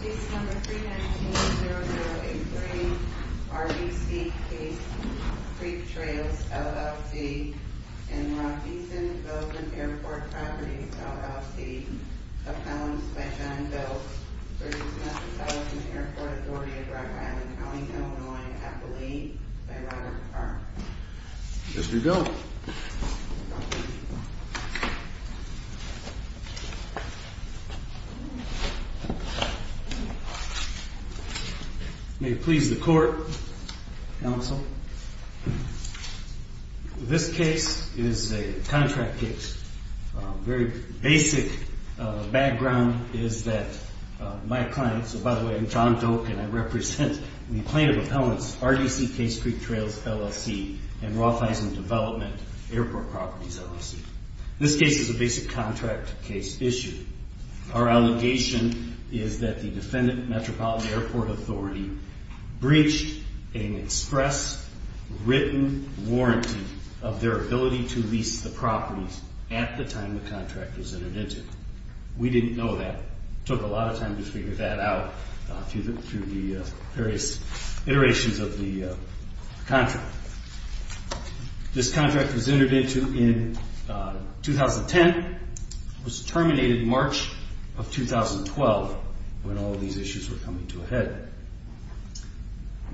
Case No. 319-0083 RDC Case Creek Trails, LLC v. Mount Beeson Development Airport Properties, LLC Accounts by John Belz v. Metropolitan Airport Authority of Rock Island County, Illinois Appellee by Robert Park May it please the Court, Counsel. This case is a contract case. Very basic background is that my client, so by the way, I'm John Doak and I represent the plaintiff appellant's RDC Case Creek Trails, LLC and Rock Island Development Airport Properties, LLC. This case is a basic contract case issue. Our allegation is that the defendant, Metropolitan Airport Authority, breached an express written warranty of their ability to lease the properties at the time the contract was entered into. We didn't know that. It took a lot of time to figure that out through the various iterations of the contract. This contract was entered into in 2010. It was terminated in March of 2012 when all of these issues were coming to a head.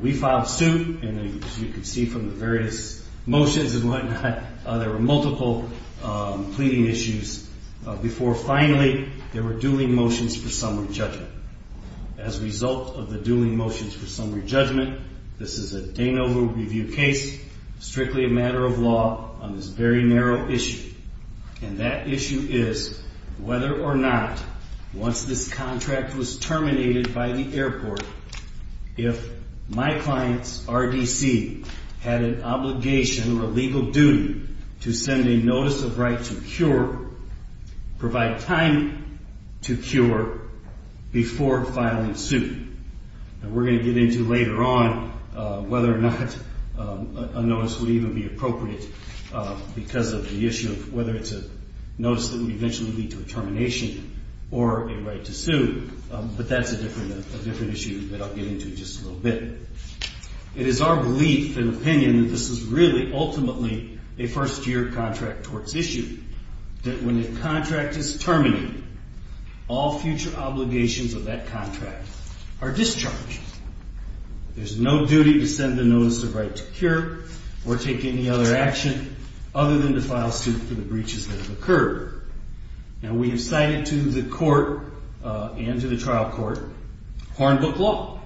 We filed suit and as you can see from the various motions and whatnot, there were multiple pleading issues before finally there were dueling motions for summary judgment. As a result of the dueling motions for summary judgment, this is a Danover Review case, strictly a matter of law on this very narrow issue. And that issue is whether or not once this contract was terminated by the airport, if my client's RDC had an obligation or a legal duty to send a notice of right to cure, provide time to cure before filing suit. And we're going to get into later on whether or not a notice would even be appropriate because of the issue of whether it's a notice that would eventually lead to a termination or a right to sue. But that's a different issue that I'll get into just a little bit. It is our belief and opinion that this is really ultimately a first-year contract towards issue, that when a contract is terminated, all future obligations of that contract are discharged. There's no duty to send a notice of right to cure or take any other action other than to file suit for the breaches that have occurred. Now, we have cited to the court and to the trial court Hornbook Law,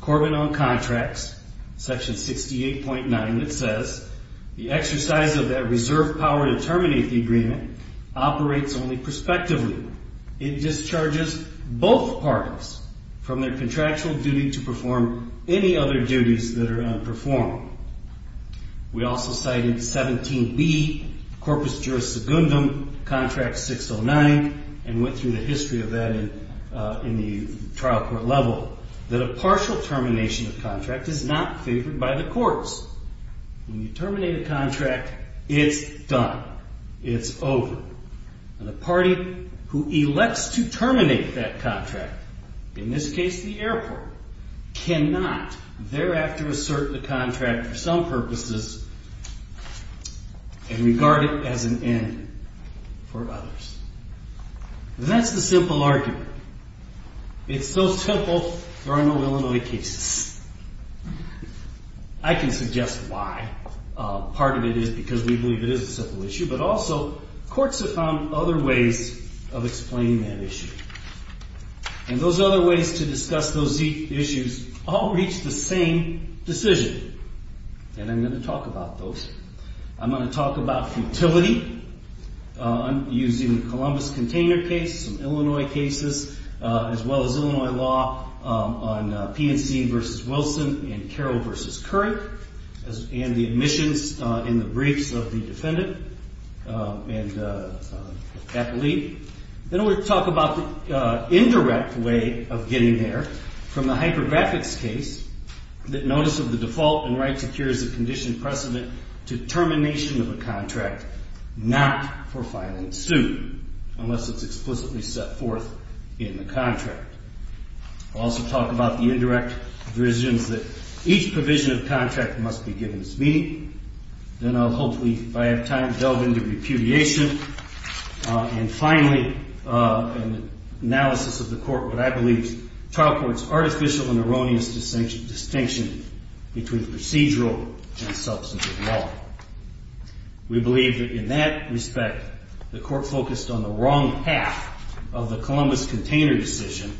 Corbin on Contracts, Section 68.9. It says the exercise of that reserve power to terminate the agreement operates only prospectively. It discharges both parties from their contractual duty to perform any other duties that are unperformed. We also cited 17B, Corpus Juris Secundum, Contract 609, and went through the history of that in the trial court level, that a partial termination of contract is not favored by the courts. When you terminate a contract, it's done. It's over. The party who elects to terminate that contract, in this case the airport, cannot thereafter assert the contract for some purposes and regard it as an end for others. That's the simple argument. It's so simple, there are no Illinois cases. I can suggest why. Part of it is because we believe it is a simple issue, but also courts have found other ways of explaining that issue. And those other ways to discuss those issues all reach the same decision, and I'm going to talk about those. I'm going to talk about futility. I'm using the Columbus Container case, some Illinois cases, as well as Illinois law on P&C v. Wilson and Carroll v. Couric, and the admissions in the briefs of the defendant and the athlete. Then I'm going to talk about the indirect way of getting there, from the hypergraphics case, that notice of the default and right to cure is a conditioned precedent to termination of a contract, not for filing suit, unless it's explicitly set forth in the contract. I'll also talk about the indirect provisions that each provision of contract must be given its meaning. Then I'll hopefully, if I have time, delve into repudiation. And finally, an analysis of the court, what I believe is trial court's artificial and erroneous distinction between procedural and substantive law. We believe that in that respect, the court focused on the wrong half of the Columbus Container decision.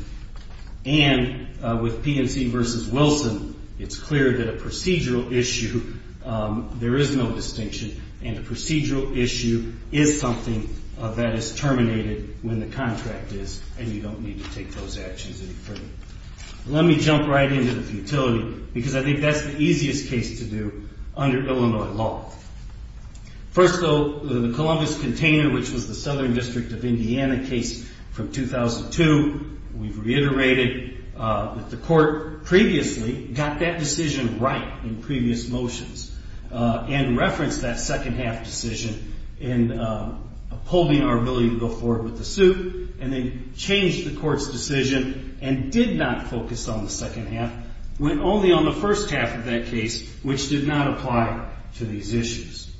And with P&C v. Wilson, it's clear that a procedural issue, there is no distinction, and a procedural issue is something that is terminated when the contract is, and you don't need to take those actions any further. Let me jump right into the futility, because I think that's the easiest case to do under Illinois law. First, though, the Columbus Container, which was the Southern District of Indiana case from 2002, we've reiterated that the court previously got that decision right in previous motions, and referenced that second half decision in upholding our ability to go forward with the suit, and then changed the court's decision and did not focus on the second half, went only on the first half of that case, which did not apply to these issues.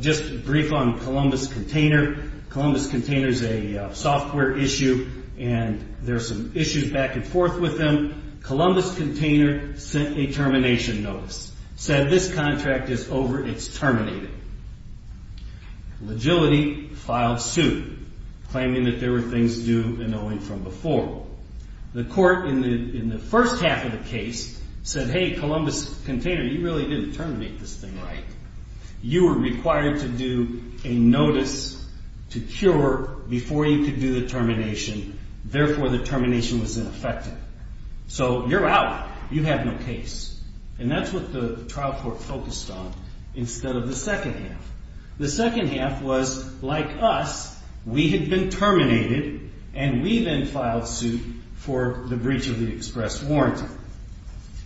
Just to brief on Columbus Container, Columbus Container is a software issue, and there are some issues back and forth with them. Columbus Container sent a termination notice, said this contract is over, it's terminated. Legality filed suit, claiming that there were things due and owing from before. The court in the first half of the case said, hey, Columbus Container, you really didn't terminate this thing right. You were required to do a notice to cure before you could do the termination, therefore the termination was ineffective. So you're out. You have no case. And that's what the trial court focused on instead of the second half. The second half was, like us, we had been terminated, and we then filed suit for the breach of the express warranty.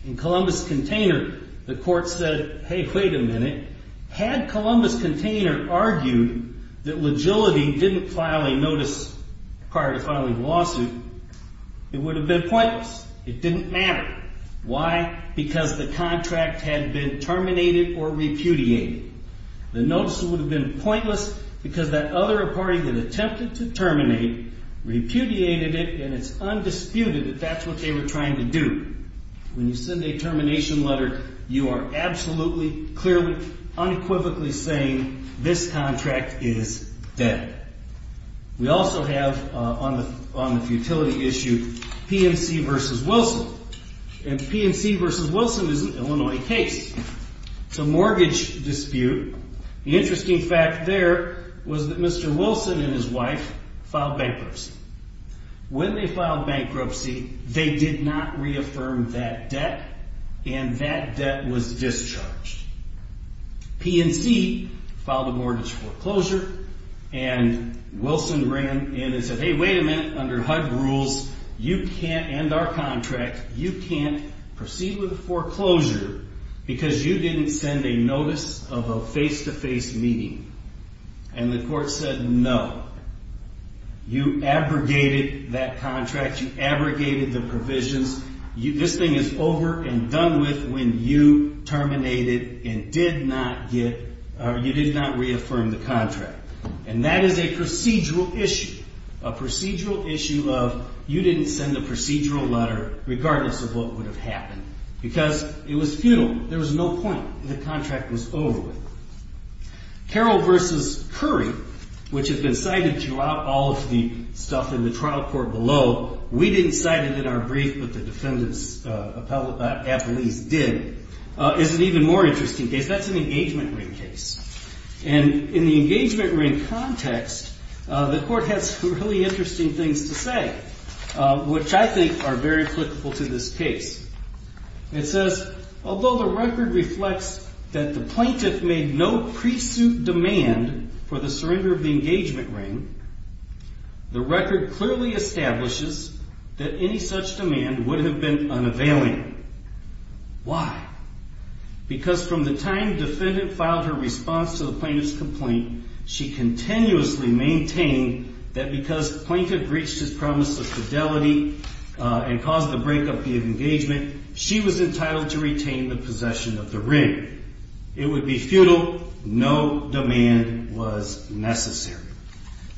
In Columbus Container, the court said, hey, wait a minute. Had Columbus Container argued that legality didn't file a notice prior to filing the lawsuit, it would have been pointless. It didn't matter. Why? Because the contract had been terminated or repudiated. The notice would have been pointless because that other party had attempted to terminate, repudiated it, and it's undisputed that that's what they were trying to do. When you send a termination letter, you are absolutely, clearly, unequivocally saying this contract is dead. We also have on the futility issue PNC v. Wilson. And PNC v. Wilson is an Illinois case. It's a mortgage dispute. The interesting fact there was that Mr. Wilson and his wife filed bankruptcy. When they filed bankruptcy, they did not reaffirm that debt, and that debt was discharged. PNC filed a mortgage foreclosure, and Wilson ran in and said, hey, wait a minute. Under HUD rules, you can't end our contract. You can't proceed with a foreclosure because you didn't send a notice of a face-to-face meeting. And the court said, no. You abrogated that contract. You abrogated the provisions. This thing is over and done with when you terminated and did not get or you did not reaffirm the contract. And that is a procedural issue, a procedural issue of you didn't send a procedural letter regardless of what would have happened because it was futile. There was no point. The contract was over with. Carroll v. Curry, which has been cited throughout all of the stuff in the trial court below. We didn't cite it in our brief, but the defendant's appellees did, is an even more interesting case. That's an engagement ring case. And in the engagement ring context, the court has some really interesting things to say, which I think are very applicable to this case. It says, although the record reflects that the plaintiff made no pre-suit demand for the surrender of the engagement ring, the record clearly establishes that any such demand would have been unavailing. Why? Because from the time the defendant filed her response to the plaintiff's complaint, she continuously maintained that because the plaintiff breached his promise of fidelity and caused the breakup via engagement, she was entitled to retain the possession of the ring. It would be futile. No demand was necessary.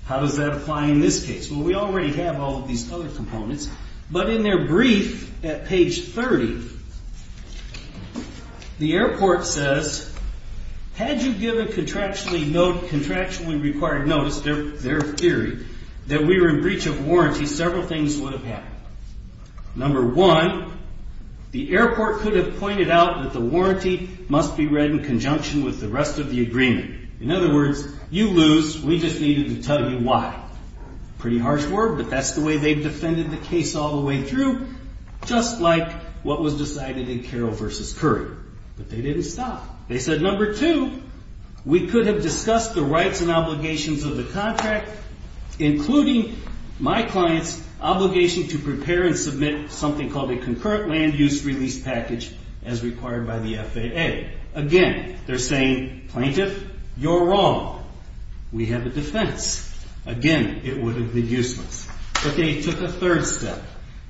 How does that apply in this case? Well, we already have all of these other components, but in their brief at page 30, the airport says, had you given contractually required notice, their theory, that we were in breach of warranty, several things would have happened. Number one, the airport could have pointed out that the warranty must be read in conjunction with the rest of the agreement. In other words, you lose. We just needed to tell you why. Pretty harsh word, but that's the way they've defended the case all the way through, just like what was decided in Carroll v. Curry. But they didn't stop. They said, number two, we could have discussed the rights and obligations of the contract, including my client's obligation to prepare and submit something called a concurrent land use release package as required by the FAA. Again, they're saying, plaintiff, you're wrong. We have a defense. Again, it would have been useless. But they took a third step,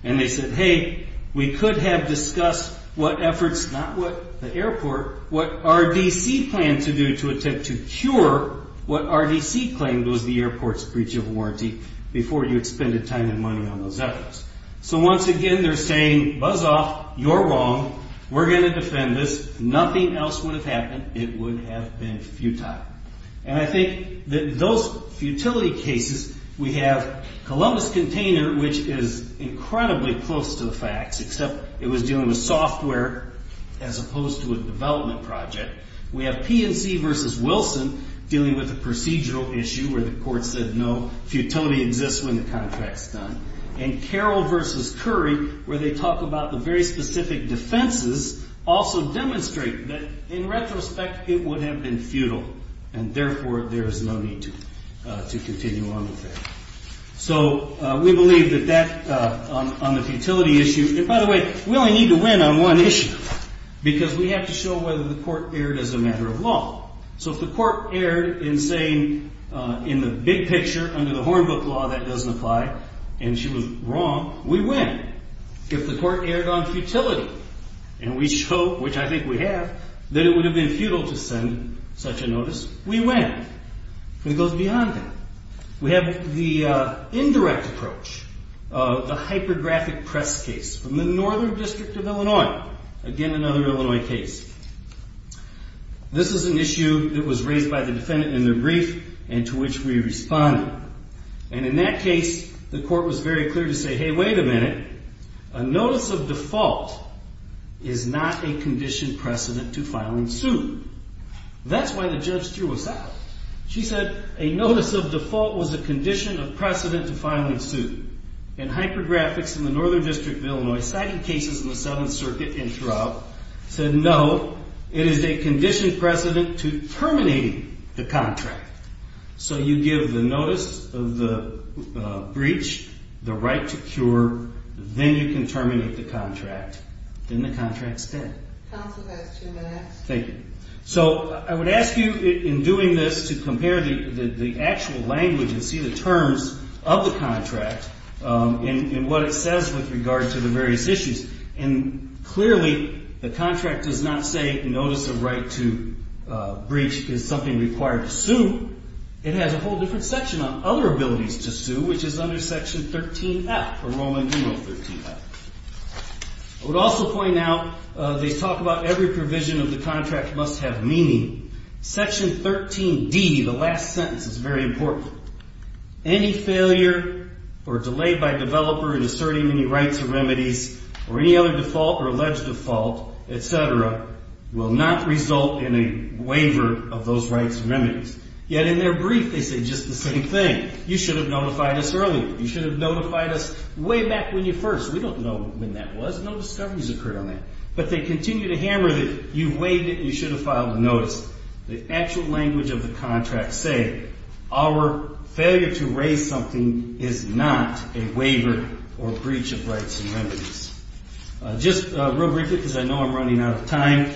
and they said, hey, we could have discussed what efforts, not what the airport, what RDC planned to do to attempt to cure what RDC claimed was the airport's breach of warranty before you had spent a ton of money on those efforts. So once again, they're saying, buzz off. You're wrong. We're going to defend this. Nothing else would have happened. It would have been futile. And I think that those futility cases, we have Columbus Container, which is incredibly close to the facts, except it was dealing with software as opposed to a development project. We have P&C v. Wilson dealing with a procedural issue where the court said, no, futility exists when the contract's done. And Carroll v. Curry, where they talk about the very specific defenses, also demonstrate that, in retrospect, it would have been futile. And therefore, there is no need to continue on with that. So we believe that that, on the futility issue, and by the way, we only need to win on one issue, because we have to show whether the court erred as a matter of law. So if the court erred in saying, in the big picture, under the Hornbook law, that doesn't apply, and she was wrong, we win. If the court erred on futility, and we show, which I think we have, that it would have been futile to send such a notice, we win. It goes beyond that. We have the indirect approach, the hypergraphic press case from the Northern District of Illinois. Again, another Illinois case. This is an issue that was raised by the defendant in their brief, and to which we responded. And in that case, the court was very clear to say, hey, wait a minute. A notice of default is not a conditioned precedent to filing suit. That's why the judge threw us out. She said, a notice of default was a condition of precedent to filing suit. And hypergraphics in the Northern District of Illinois cited cases in the Seventh Circuit and throughout, said no, it is a conditioned precedent to terminating the contract. So you give the notice of the breach the right to cure, then you can terminate the contract. Then the contract's dead. Counsel, past two minutes. Thank you. So I would ask you, in doing this, to compare the actual language and see the terms of the contract and what it says with regard to the various issues. And clearly, the contract does not say notice of right to breach is something required to sue. It has a whole different section on other abilities to sue, which is under Section 13F, or Roman numeral 13F. I would also point out, they talk about every provision of the contract must have meaning. Section 13D, the last sentence, is very important. Any failure or delay by developer in asserting any rights or remedies or any other default or alleged default, et cetera, will not result in a waiver of those rights or remedies. Yet in their brief, they say just the same thing. You should have notified us earlier. You should have notified us way back when you first. We don't know when that was. No discoveries occurred on that. But they continue to hammer that you waived it and you should have filed a notice. The actual language of the contract say our failure to raise something is not a waiver or breach of rights and remedies. Just real briefly, because I know I'm running out of time,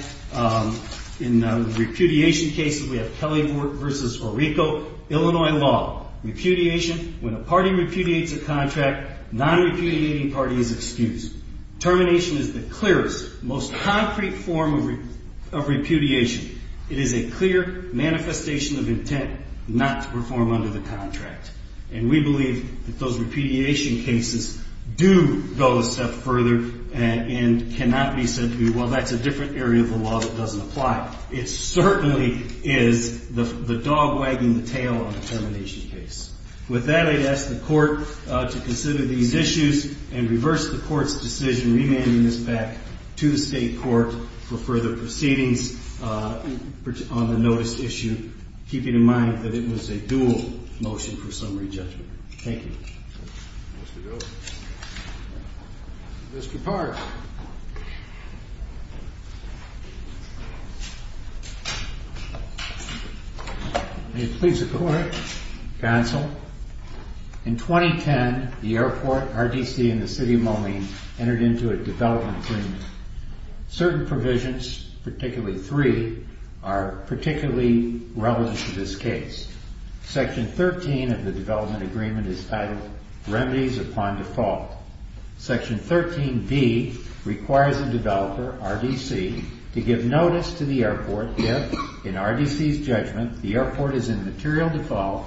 in repudiation cases, we have Kelly v. Orico, Illinois law. Repudiation, when a party repudiates a contract, non-repudiating party is excused. Termination is the clearest, most concrete form of repudiation. It is a clear manifestation of intent not to perform under the contract. And we believe that those repudiation cases do go a step further and cannot be said to be, well, that's a different area of the law that doesn't apply. It certainly is the dog wagging the tail on a termination case. With that, I'd ask the court to consider these issues and reverse the court's decision remanding this back to the state court for further proceedings on the notice issue, keeping in mind that it was a dual motion for summary judgment. Thank you. Mr. Gose. Mr. Park. May it please the court, counsel. In 2010, the airport, RDC, and the city of Moline entered into a development agreement. Certain provisions, particularly three, are particularly relevant to this case. Section 13 of the development agreement is titled Remedies Upon Default. Section 13B requires a developer, RDC, to give notice to the airport if, in RDC's judgment, the airport is in material default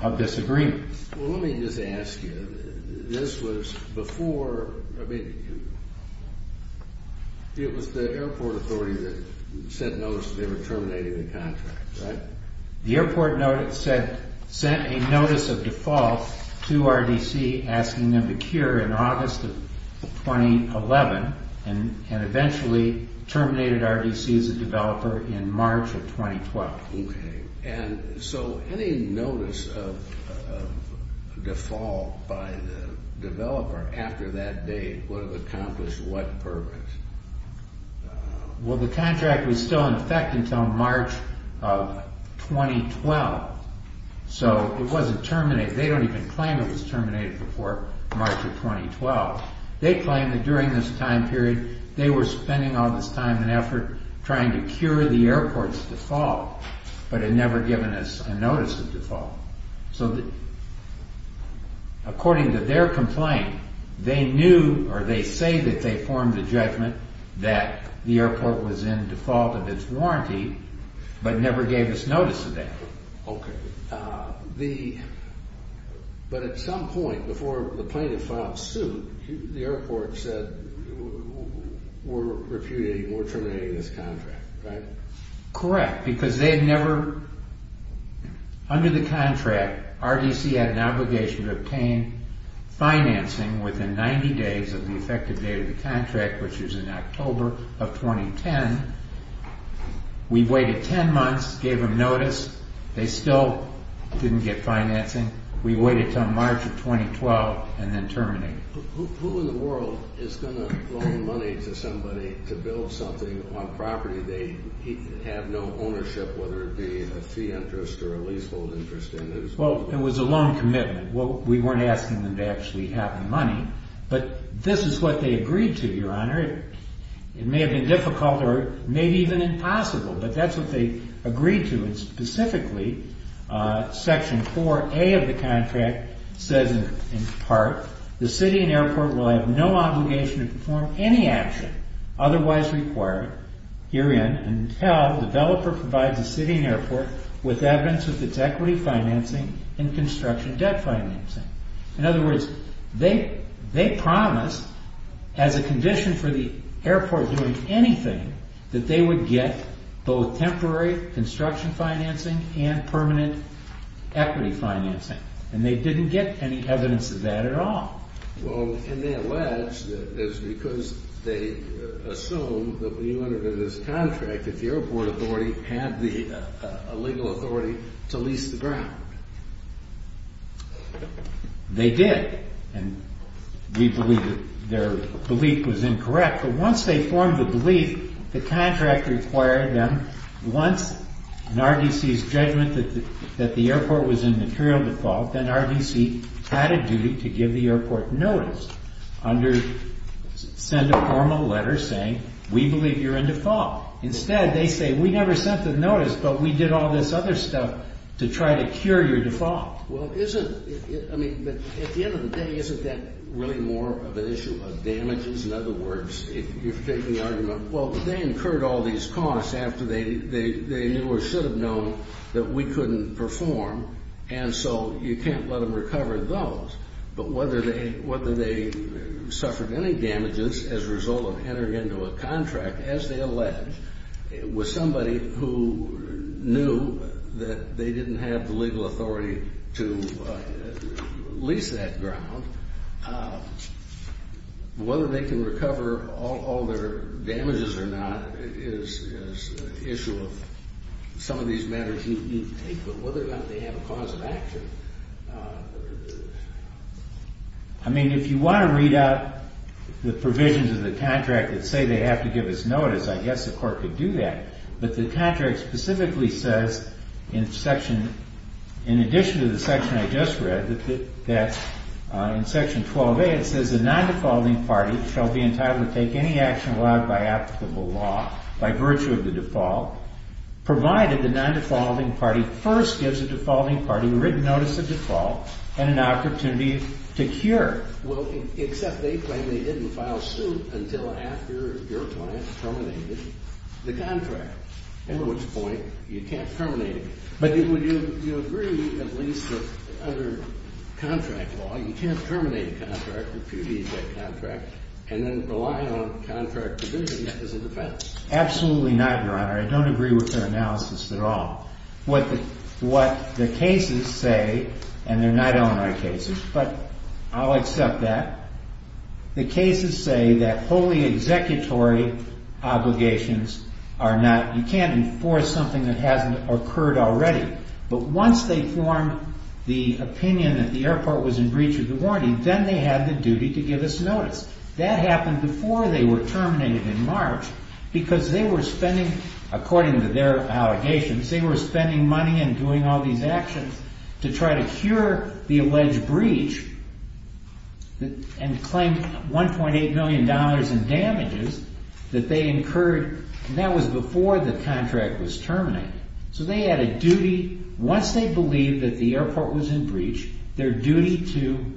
of this agreement. Well, let me just ask you, this was before, I mean, it was the airport authority that sent notice that they were terminating the contract, right? The airport sent a notice of default to RDC asking them to cure in August of 2011 and eventually terminated RDC as a developer in March of 2012. Okay. And so any notice of default by the developer after that date would have accomplished what purpose? Well, the contract was still in effect until March of 2012, so it wasn't terminated. They don't even claim it was terminated before March of 2012. They claim that during this time period, they were spending all this time and effort trying to cure the airport's default but had never given us a notice of default. So according to their complaint, they knew or they say that they formed a judgment that the airport was in default of its warranty but never gave us notice of that. Okay. But at some point before the plaintiff filed suit, the airport said we're refuting, we're terminating this contract, right? Correct, because they had never, under the contract, RDC had an obligation to obtain financing within 90 days of the effective date of the contract, which is in October of 2010. We waited 10 months, gave them notice, they still didn't get financing. We waited until March of 2012 and then terminated. Who in the world is going to loan money to somebody to build something on property they have no ownership, whether it be a fee interest or a leasehold interest? Well, it was a loan commitment. We weren't asking them to actually have the money, but this is what they agreed to, Your Honor. It may have been difficult or maybe even impossible, but that's what they agreed to. Section 4A of the contract says in part, the city and airport will have no obligation to perform any action otherwise required herein until the developer provides the city and airport with evidence of its equity financing and construction debt financing. In other words, they promised as a condition for the airport doing anything that they would get both temporary construction financing and permanent equity financing, and they didn't get any evidence of that at all. Well, can they allege that it's because they assume that we under this contract that the airport authority had the legal authority to lease the ground? They did, and we believe that their belief was incorrect. But once they formed the belief, the contract required them, once an RDC's judgment that the airport was in material default, then RDC had a duty to give the airport notice, send a formal letter saying, we believe you're in default. Instead, they say, we never sent the notice, but we did all this other stuff to try to cure your default. Well, isn't, I mean, at the end of the day, isn't that really more of an issue of damages? In other words, if you're taking the argument, well, they incurred all these costs after they knew or should have known that we couldn't perform, and so you can't let them recover those. But whether they suffered any damages as a result of entering into a contract, as they allege, with somebody who knew that they didn't have the legal authority to lease that ground, whether they can recover all their damages or not is an issue of some of these matters you take. I mean, if you want to read out the provisions of the contract that say they have to give us notice, I guess the court could do that. But the contract specifically says in section, in addition to the section I just read, that in section 12A, it says the non-defaulting party shall be entitled to take any action allowed by applicable law by virtue of the default, provided the non-defaulting party first gives the defaulting party written notice of default and an opportunity to cure. Well, except they claim they didn't file suit until after your client terminated the contract, at which point you can't terminate it. But would you agree, at least under contract law, you can't terminate a contract, impugn that contract, and then rely on contract provision as a defense? Absolutely not, Your Honor. I don't agree with their analysis at all. What the cases say, and they're not Illinois cases, but I'll accept that. The cases say that wholly executory obligations are not, you can't enforce something that hasn't occurred already. But once they form the opinion that the airport was in breach of the warranty, then they have the duty to give us notice. That happened before they were terminated in March because they were spending, according to their allegations, they were spending money and doing all these actions to try to cure the alleged breach and claim $1.8 million in damages that they incurred. That was before the contract was terminated. So they had a duty, once they believed that the airport was in breach, their duty to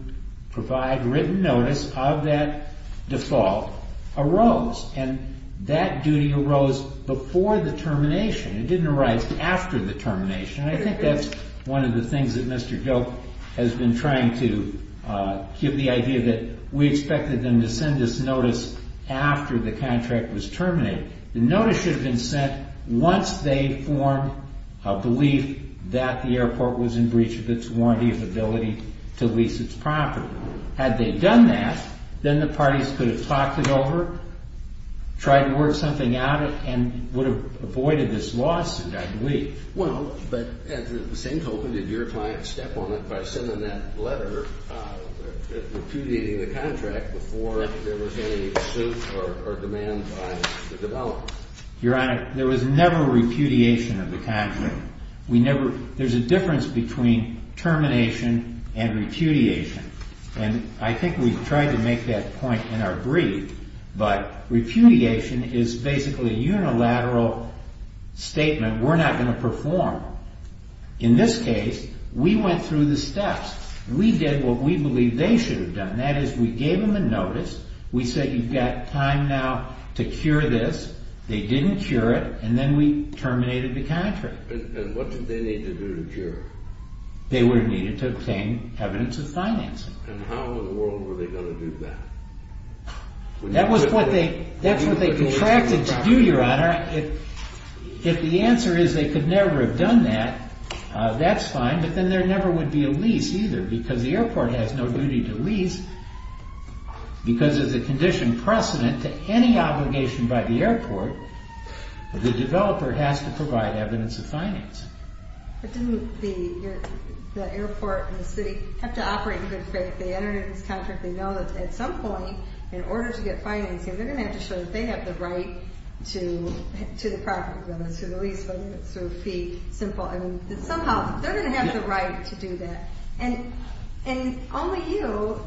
provide written notice of that default arose. And that duty arose before the termination. It didn't arise after the termination. And I think that's one of the things that Mr. Gilk has been trying to give the idea that we expected them to send us notice after the contract was terminated. The notice should have been sent once they formed a belief that the airport was in breach of its warranty of ability to lease its property. Had they done that, then the parties could have talked it over, tried to work something out, and would have avoided this lawsuit, I believe. Well, but at the same token, did your client step on it by sending that letter repudiating the contract before there was any suit or demand by the developer? Your Honor, there was never repudiation of the contract. There's a difference between termination and repudiation. And I think we've tried to make that point in our brief, but repudiation is basically a unilateral statement. We're not going to perform. In this case, we went through the steps. We did what we believed they should have done. That is, we gave them a notice. We said, you've got time now to cure this. They didn't cure it, and then we terminated the contract. And what did they need to do to cure it? They would have needed to obtain evidence of financing. And how in the world were they going to do that? That's what they contracted to do, Your Honor. If the answer is they could never have done that, that's fine, but then there never would be a lease either because the airport has no duty to lease. Because there's a condition precedent to any obligation by the airport, the developer has to provide evidence of financing. But didn't the airport and the city have to operate in good faith? They entered into this contract. They know that at some point, in order to get financing, they're going to have to show that they have the right to the property, whether it's through the lease, whether it's through a fee, simple. I mean, somehow they're going to have the right to do that. And only you,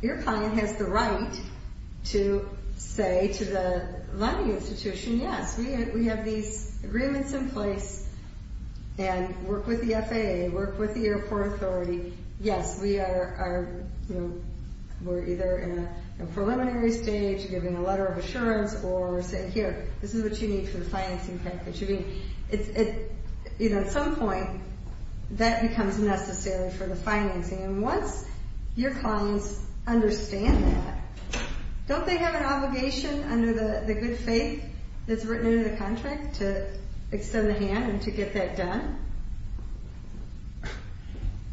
your client, has the right to say to the lending institution, yes, we have these agreements in place, and work with the FAA, work with the airport authority. Yes, we are either in a preliminary stage, giving a letter of assurance, or saying, here, this is what you need for the financing package. I mean, at some point, that becomes necessary for the financing. And once your clients understand that, don't they have an obligation under the good faith that's written into the contract to extend the hand and to get that done?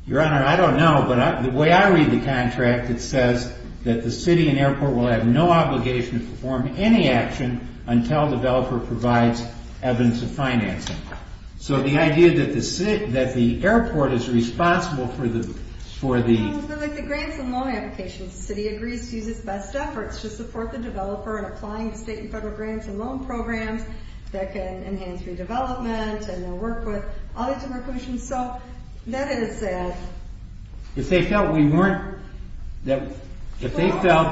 Your Honor, I don't know, but the way I read the contract, it says that the city and airport will have no obligation to perform any action until the developer provides evidence of financing. So the idea that the airport is responsible for the... So that is sad. If they felt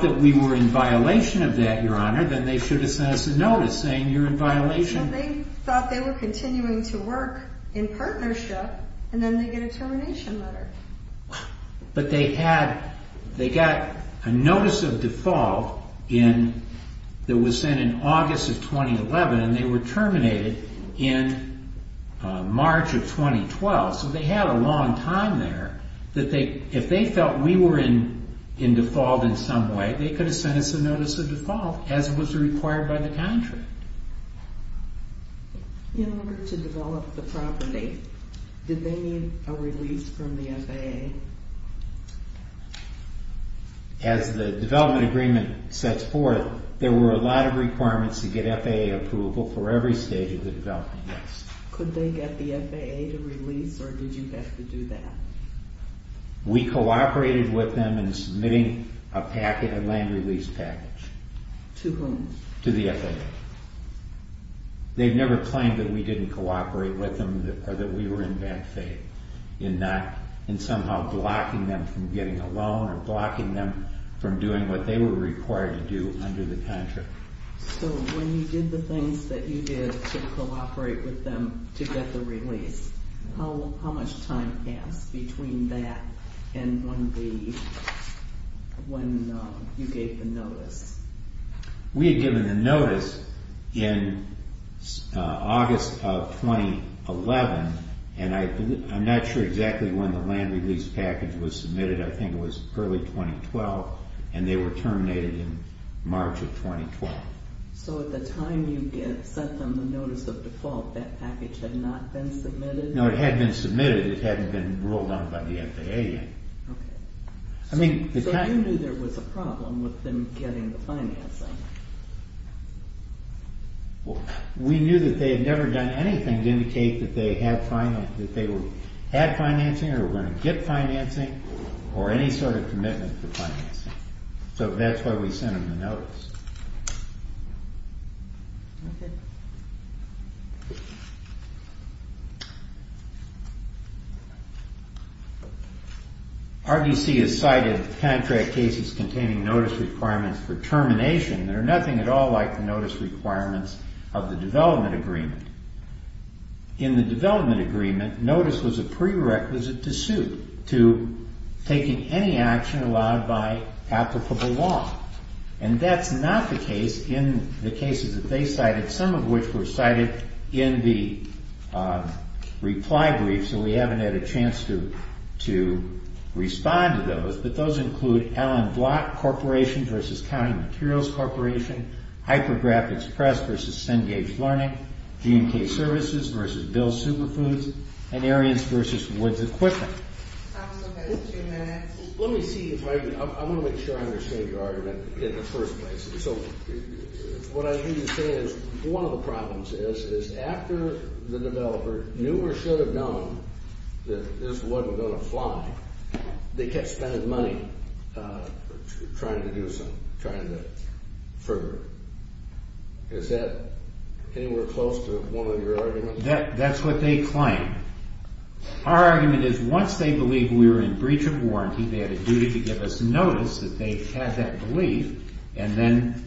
that we were in violation of that, Your Honor, then they should have sent us a notice saying you're in violation. They thought they were continuing to work in partnership, and then they get a termination letter. But they got a notice of default that was sent in August of 2011, and they were terminated in March of 2012. So they had a long time there. If they felt we were in default in some way, they could have sent us a notice of default, as was required by the contract. In order to develop the property, did they need a release from the FAA? As the development agreement sets forth, there were a lot of requirements to get FAA approval for every stage of the development, yes. Could they get the FAA to release, or did you have to do that? We cooperated with them in submitting a packet, a land release package. To whom? To the FAA. They've never claimed that we didn't cooperate with them or that we were in bad faith in somehow blocking them from getting a loan or blocking them from doing what they were required to do under the contract. So when you did the things that you did to cooperate with them to get the release, how much time passed between that and when you gave the notice? We had given the notice in August of 2011, and I'm not sure exactly when the land release package was submitted. I think it was early 2012, and they were terminated in March of 2012. So at the time you sent them the notice of default, that package had not been submitted? No, it had been submitted. It hadn't been ruled on by the FAA yet. So you knew there was a problem with them getting the financing? We knew that they had never done anything to indicate that they had financing or were going to get financing or any sort of commitment to financing. So that's why we sent them the notice. RBC has cited contract cases containing notice requirements for termination that are nothing at all like the notice requirements of the development agreement. In the development agreement, notice was a prerequisite to suit, to taking any action allowed by applicable law. And that's not the case in the cases that they cited, some of which were cited in the reply brief, so we haven't had a chance to respond to those. But those include Allen Block Corporation v. County Materials Corporation, Hypergraphics Press v. Cengage Learning, G&K Services v. Bill's Superfoods, and Ariens v. Woods Equipment. Let me see if I can, I want to make sure I understand your argument in the first place. So what I hear you saying is one of the problems is after the developer knew or should have known that this wasn't going to fly, they kept spending money trying to do something, trying to further it. Is that anywhere close to one of your arguments? So that's what they claim. Our argument is once they believed we were in breach of warranty, they had a duty to give us notice that they had that belief, and then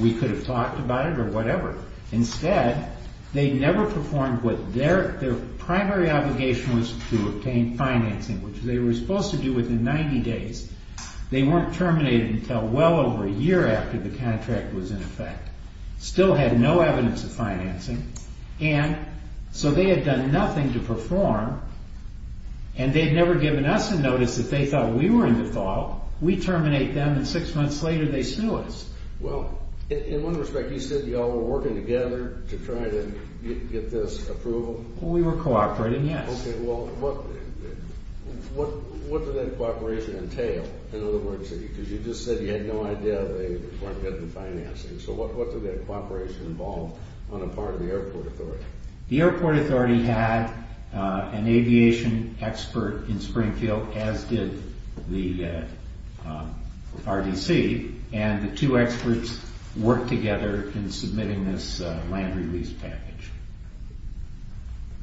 we could have talked about it or whatever. Instead, they never performed what their primary obligation was to obtain financing, which they were supposed to do within 90 days. They weren't terminated until well over a year after the contract was in effect. Still had no evidence of financing, and so they had done nothing to perform, and they'd never given us a notice that they thought we were in default. We terminate them, and six months later, they sue us. Well, in one respect, you said you all were working together to try to get this approval? We were cooperating, yes. Okay, well, what did that cooperation entail? In other words, because you just said you had no idea they weren't getting financing, so what did that cooperation involve on the part of the airport authority? The airport authority had an aviation expert in Springfield, as did the RDC, and the two experts worked together in submitting this land-release package.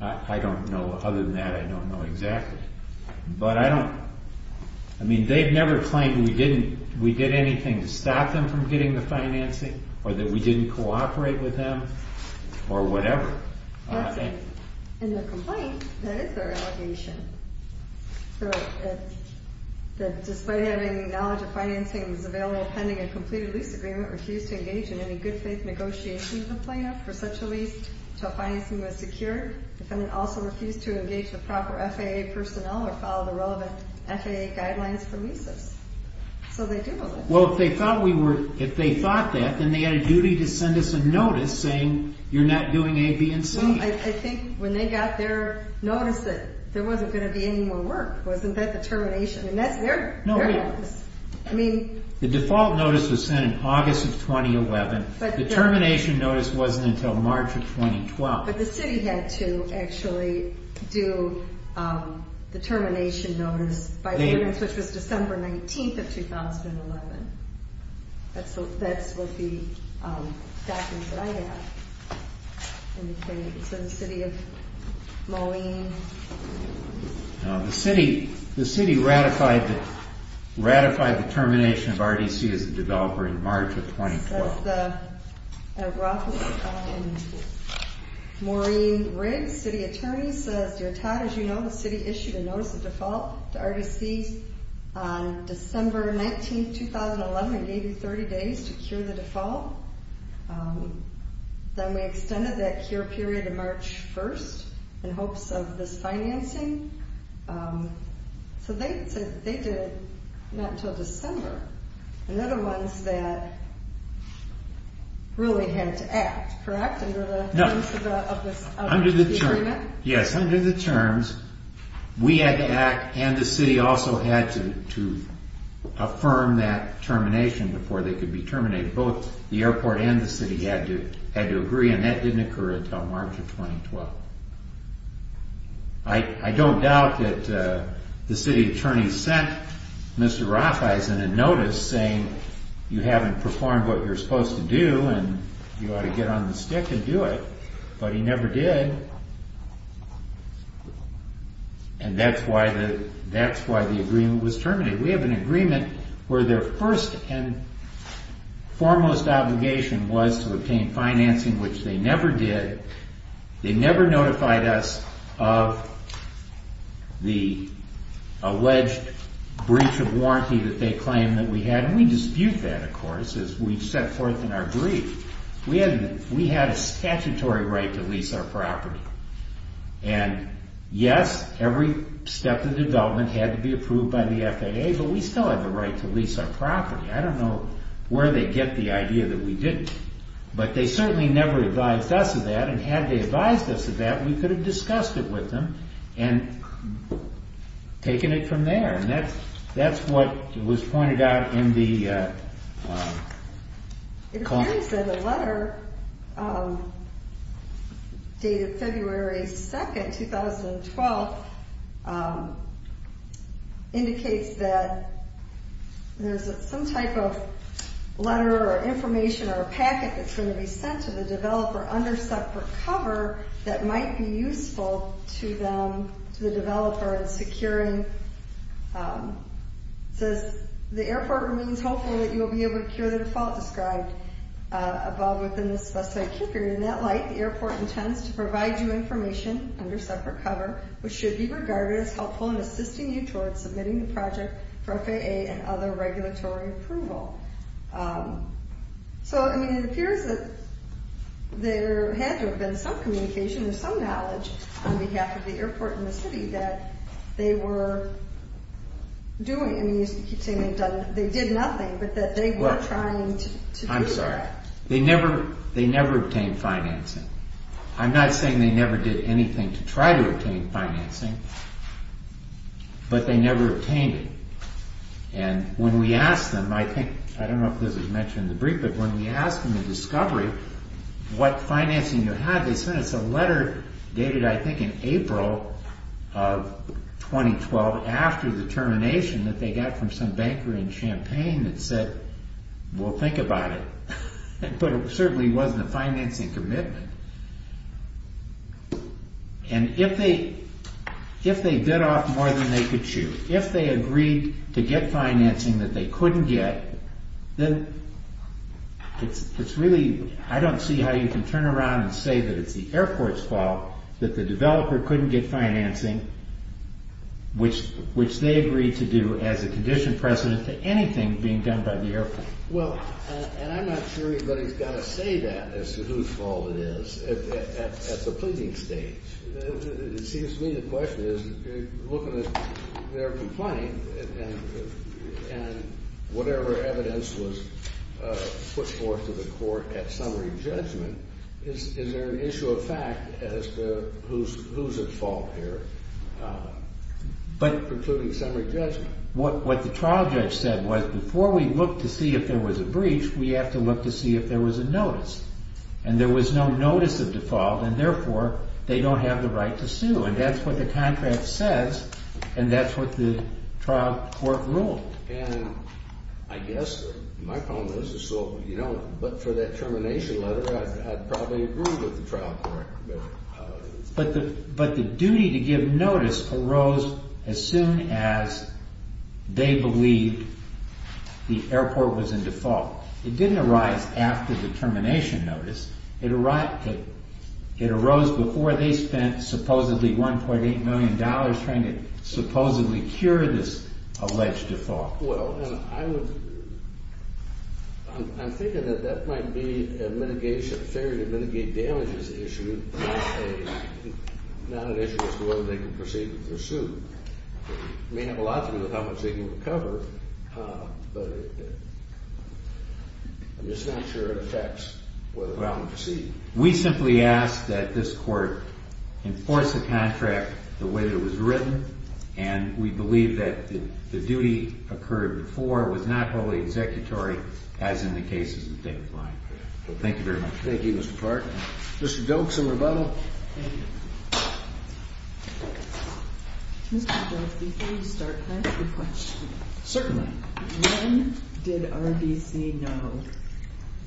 I don't know. Other than that, I don't know exactly, but I don't... I mean, they've never claimed we did anything to stop them from getting the financing, or that we didn't cooperate with them, or whatever. In their complaint, that is their allegation. That despite having knowledge of financing that was available pending a completed lease agreement, refused to engage in any good-faith negotiations with the plaintiff for such a lease until financing was secured. The defendant also refused to engage the proper FAA personnel or follow the relevant FAA guidelines for leases. So they do know that. Well, if they thought that, then they had a duty to send us a notice saying, you're not doing A, B, and C. Well, I think when they got their notice that there wasn't going to be any more work, wasn't that the termination? And that's their notice. The default notice was sent in August of 2011. The termination notice wasn't until March of 2012. But the city had to actually do the termination notice by ordinance, which was December 19th of 2011. That's what the documents that I have indicate. So the city of Maureen... The city ratified the termination of RDC as a developer in March of 2012. The city attorney says, Dear Todd, as you know, the city issued a notice of default to RDC on December 19th, 2011. It gave you 30 days to cure the default. Then we extended that cure period to March 1st in hopes of this financing. So they did it not until December. And they're the ones that really had to act, correct? No. Under the terms of the agreement? Yes, under the terms, we had to act, and the city also had to affirm that termination before they could be terminated. Both the airport and the city had to agree, and that didn't occur until March of 2012. I don't doubt that the city attorney sent Mr. Rafeisen a notice saying, You haven't performed what you're supposed to do, and you ought to get on the stick and do it. But he never did. And that's why the agreement was terminated. We have an agreement where their first and foremost obligation was to obtain financing, which they never did. They never notified us of the alleged breach of warranty that they claimed that we had. And we dispute that, of course, as we set forth in our brief. We had a statutory right to lease our property. And yes, every step of development had to be approved by the FAA, but we still had the right to lease our property. I don't know where they get the idea that we didn't. But they certainly never advised us of that, and had they advised us of that, we could have discussed it with them and taken it from there. And that's what was pointed out in the... packet that's going to be sent to the developer under separate cover that might be useful to the developer in securing... It says, So, I mean, it appears that there had to have been some communication or some knowledge on behalf of the airport and the city that they were doing. I mean, you keep saying they did nothing, but that they were trying to do that. I'm sorry. They never obtained financing. I'm not saying they never did anything to try to obtain financing, but they never obtained it. And when we asked them, I think, I don't know if this was mentioned in the brief, but when we asked them in discovery what financing they had, they sent us a letter dated, I think, in April of 2012 after the termination that they got from some banker in Champaign that said, Well, think about it. But it certainly wasn't a financing commitment. And if they did off more than they could chew, if they agreed to get financing that they couldn't get, then it's really, I don't see how you can turn around and say that it's the airport's fault that the developer couldn't get financing, which they agreed to do as a condition precedent to anything being done by the airport. Well, and I'm not sure anybody's got to say that as to whose fault it is at the pleading stage. It seems to me the question is, looking at their complaint and whatever evidence was put forth to the court at summary judgment, is there an issue of fact as to who's at fault here, including summary judgment? What the trial judge said was, before we look to see if there was a breach, we have to look to see if there was a notice. And there was no notice of default, and therefore, they don't have the right to sue. And that's what the contract says, and that's what the trial court ruled. And I guess my problem is, but for that termination letter, I'd probably agree with the trial court. But the duty to give notice arose as soon as they believed the airport was in default. It didn't arise after the termination notice. It arose before they spent supposedly $1.8 million trying to supposedly cure this alleged default. Well, I'm thinking that that might be a fair to mitigate damages issue, not an issue as to whether they can proceed with their suit. It may have a lot to do with how much they can recover, but I'm just not sure it affects whether or not we proceed. We simply ask that this court enforce the contract the way that it was written. And we believe that the duty occurred before was not wholly executory, as in the cases that they're applying for. Thank you very much. Thank you, Mr. Clark. Mr. Doak, some rebuttal? Thank you. Mr. Doak, before you start, can I ask a question? Certainly. When did RBC know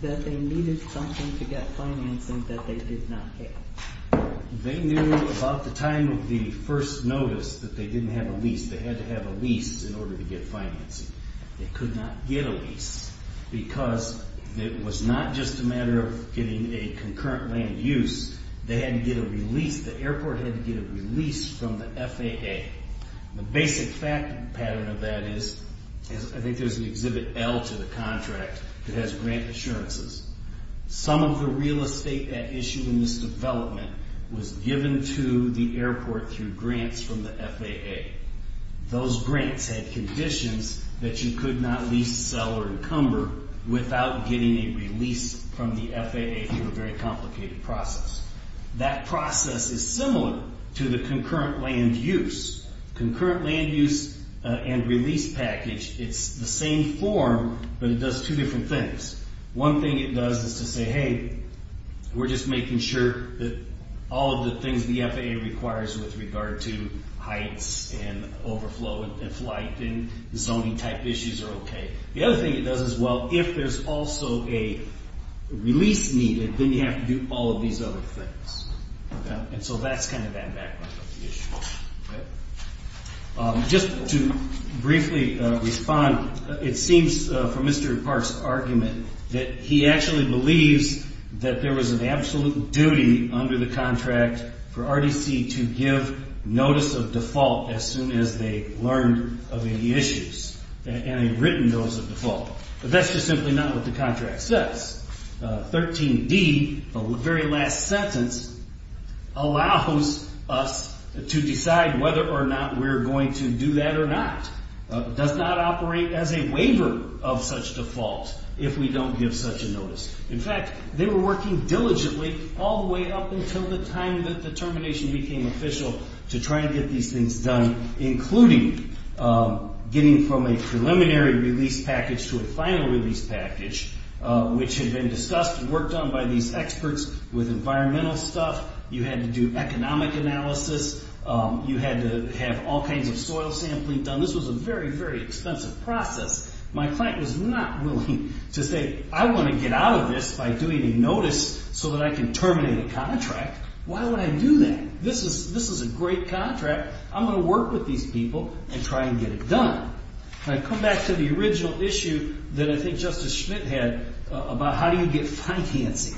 that they needed something to get financing that they did not get? They knew about the time of the first notice that they didn't have a lease. They had to have a lease in order to get financing. They could not get a lease because it was not just a matter of getting a concurrent land use. They had to get a release. The airport had to get a release from the FAA. The basic pattern of that is, I think there's an Exhibit L to the contract that has grant assurances. Some of the real estate that issued in this development was given to the airport through grants from the FAA. Those grants had conditions that you could not lease, sell, or encumber without getting a release from the FAA through a very complicated process. That process is similar to the concurrent land use. Concurrent land use and release package, it's the same form, but it does two different things. One thing it does is to say, hey, we're just making sure that all of the things the FAA requires with regard to heights and overflow and flight and zoning type issues are okay. The other thing it does is, well, if there's also a release needed, then you have to do all of these other things. So that's kind of that background of the issue. Just to briefly respond, it seems from Mr. Park's argument that he actually believes that there was an absolute duty under the contract for RDC to give notice of default as soon as they learned of any issues. And a written notice of default. But that's just simply not what the contract says. 13D, the very last sentence, allows us to decide whether or not we're going to do that or not. It does not operate as a waiver of such default if we don't give such a notice. In fact, they were working diligently all the way up until the time that the termination became official to try and get these things done, including getting from a preliminary release package to a final release package, which had been discussed and worked on by these experts with environmental stuff. You had to do economic analysis. You had to have all kinds of soil sampling done. This was a very, very expensive process. My client was not willing to say, I want to get out of this by doing a notice so that I can terminate a contract. Why would I do that? This is a great contract. I'm going to work with these people and try and get it done. And I come back to the original issue that I think Justice Schmidt had about how do you get financing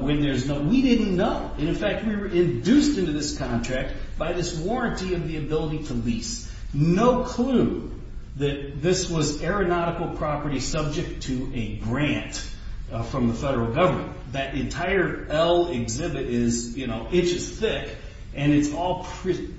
when there's no – we didn't know. And in fact, we were induced into this contract by this warranty of the ability to lease. No clue that this was aeronautical property subject to a grant from the federal government. That entire L exhibit is inches thick, and it's all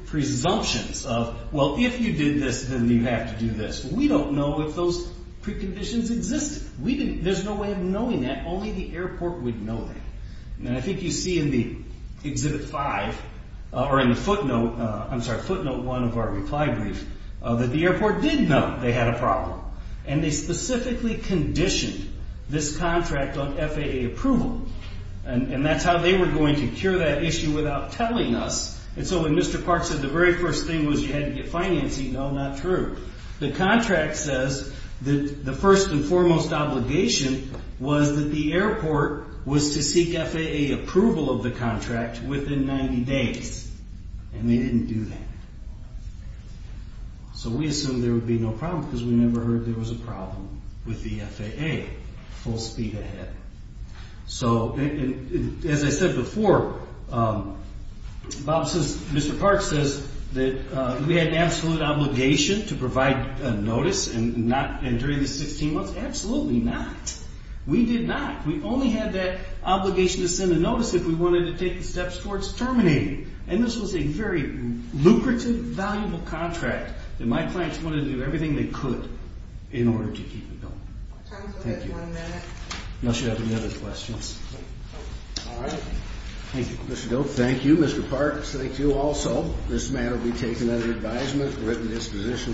presumptions of, well, if you did this, then you have to do this. We don't know if those preconditions existed. There's no way of knowing that. Only the airport would know that. And I think you see in the exhibit five, or in the footnote, I'm sorry, footnote one of our reply brief, that the airport did know they had a problem. And they specifically conditioned this contract on FAA approval. And that's how they were going to cure that issue without telling us. And so when Mr. Clark said the very first thing was you had to get financing, no, not true. The contract says that the first and foremost obligation was that the airport was to seek FAA approval of the contract within 90 days. And they didn't do that. So we assumed there would be no problem because we never heard there was a problem with the FAA full speed ahead. So as I said before, Mr. Clark says that we had an absolute obligation to provide notice and during these 16 months, absolutely not. We did not. We only had that obligation to send a notice if we wanted to take the steps towards terminating. And this was a very lucrative, valuable contract. And my clients wanted to do everything they could in order to keep it going. Thank you. Unless you have any other questions. All right. Thank you, Mr. Doak. Thank you, Mr. Parks. Thank you also. This matter will be taken under advisement. Written disposition will be issued.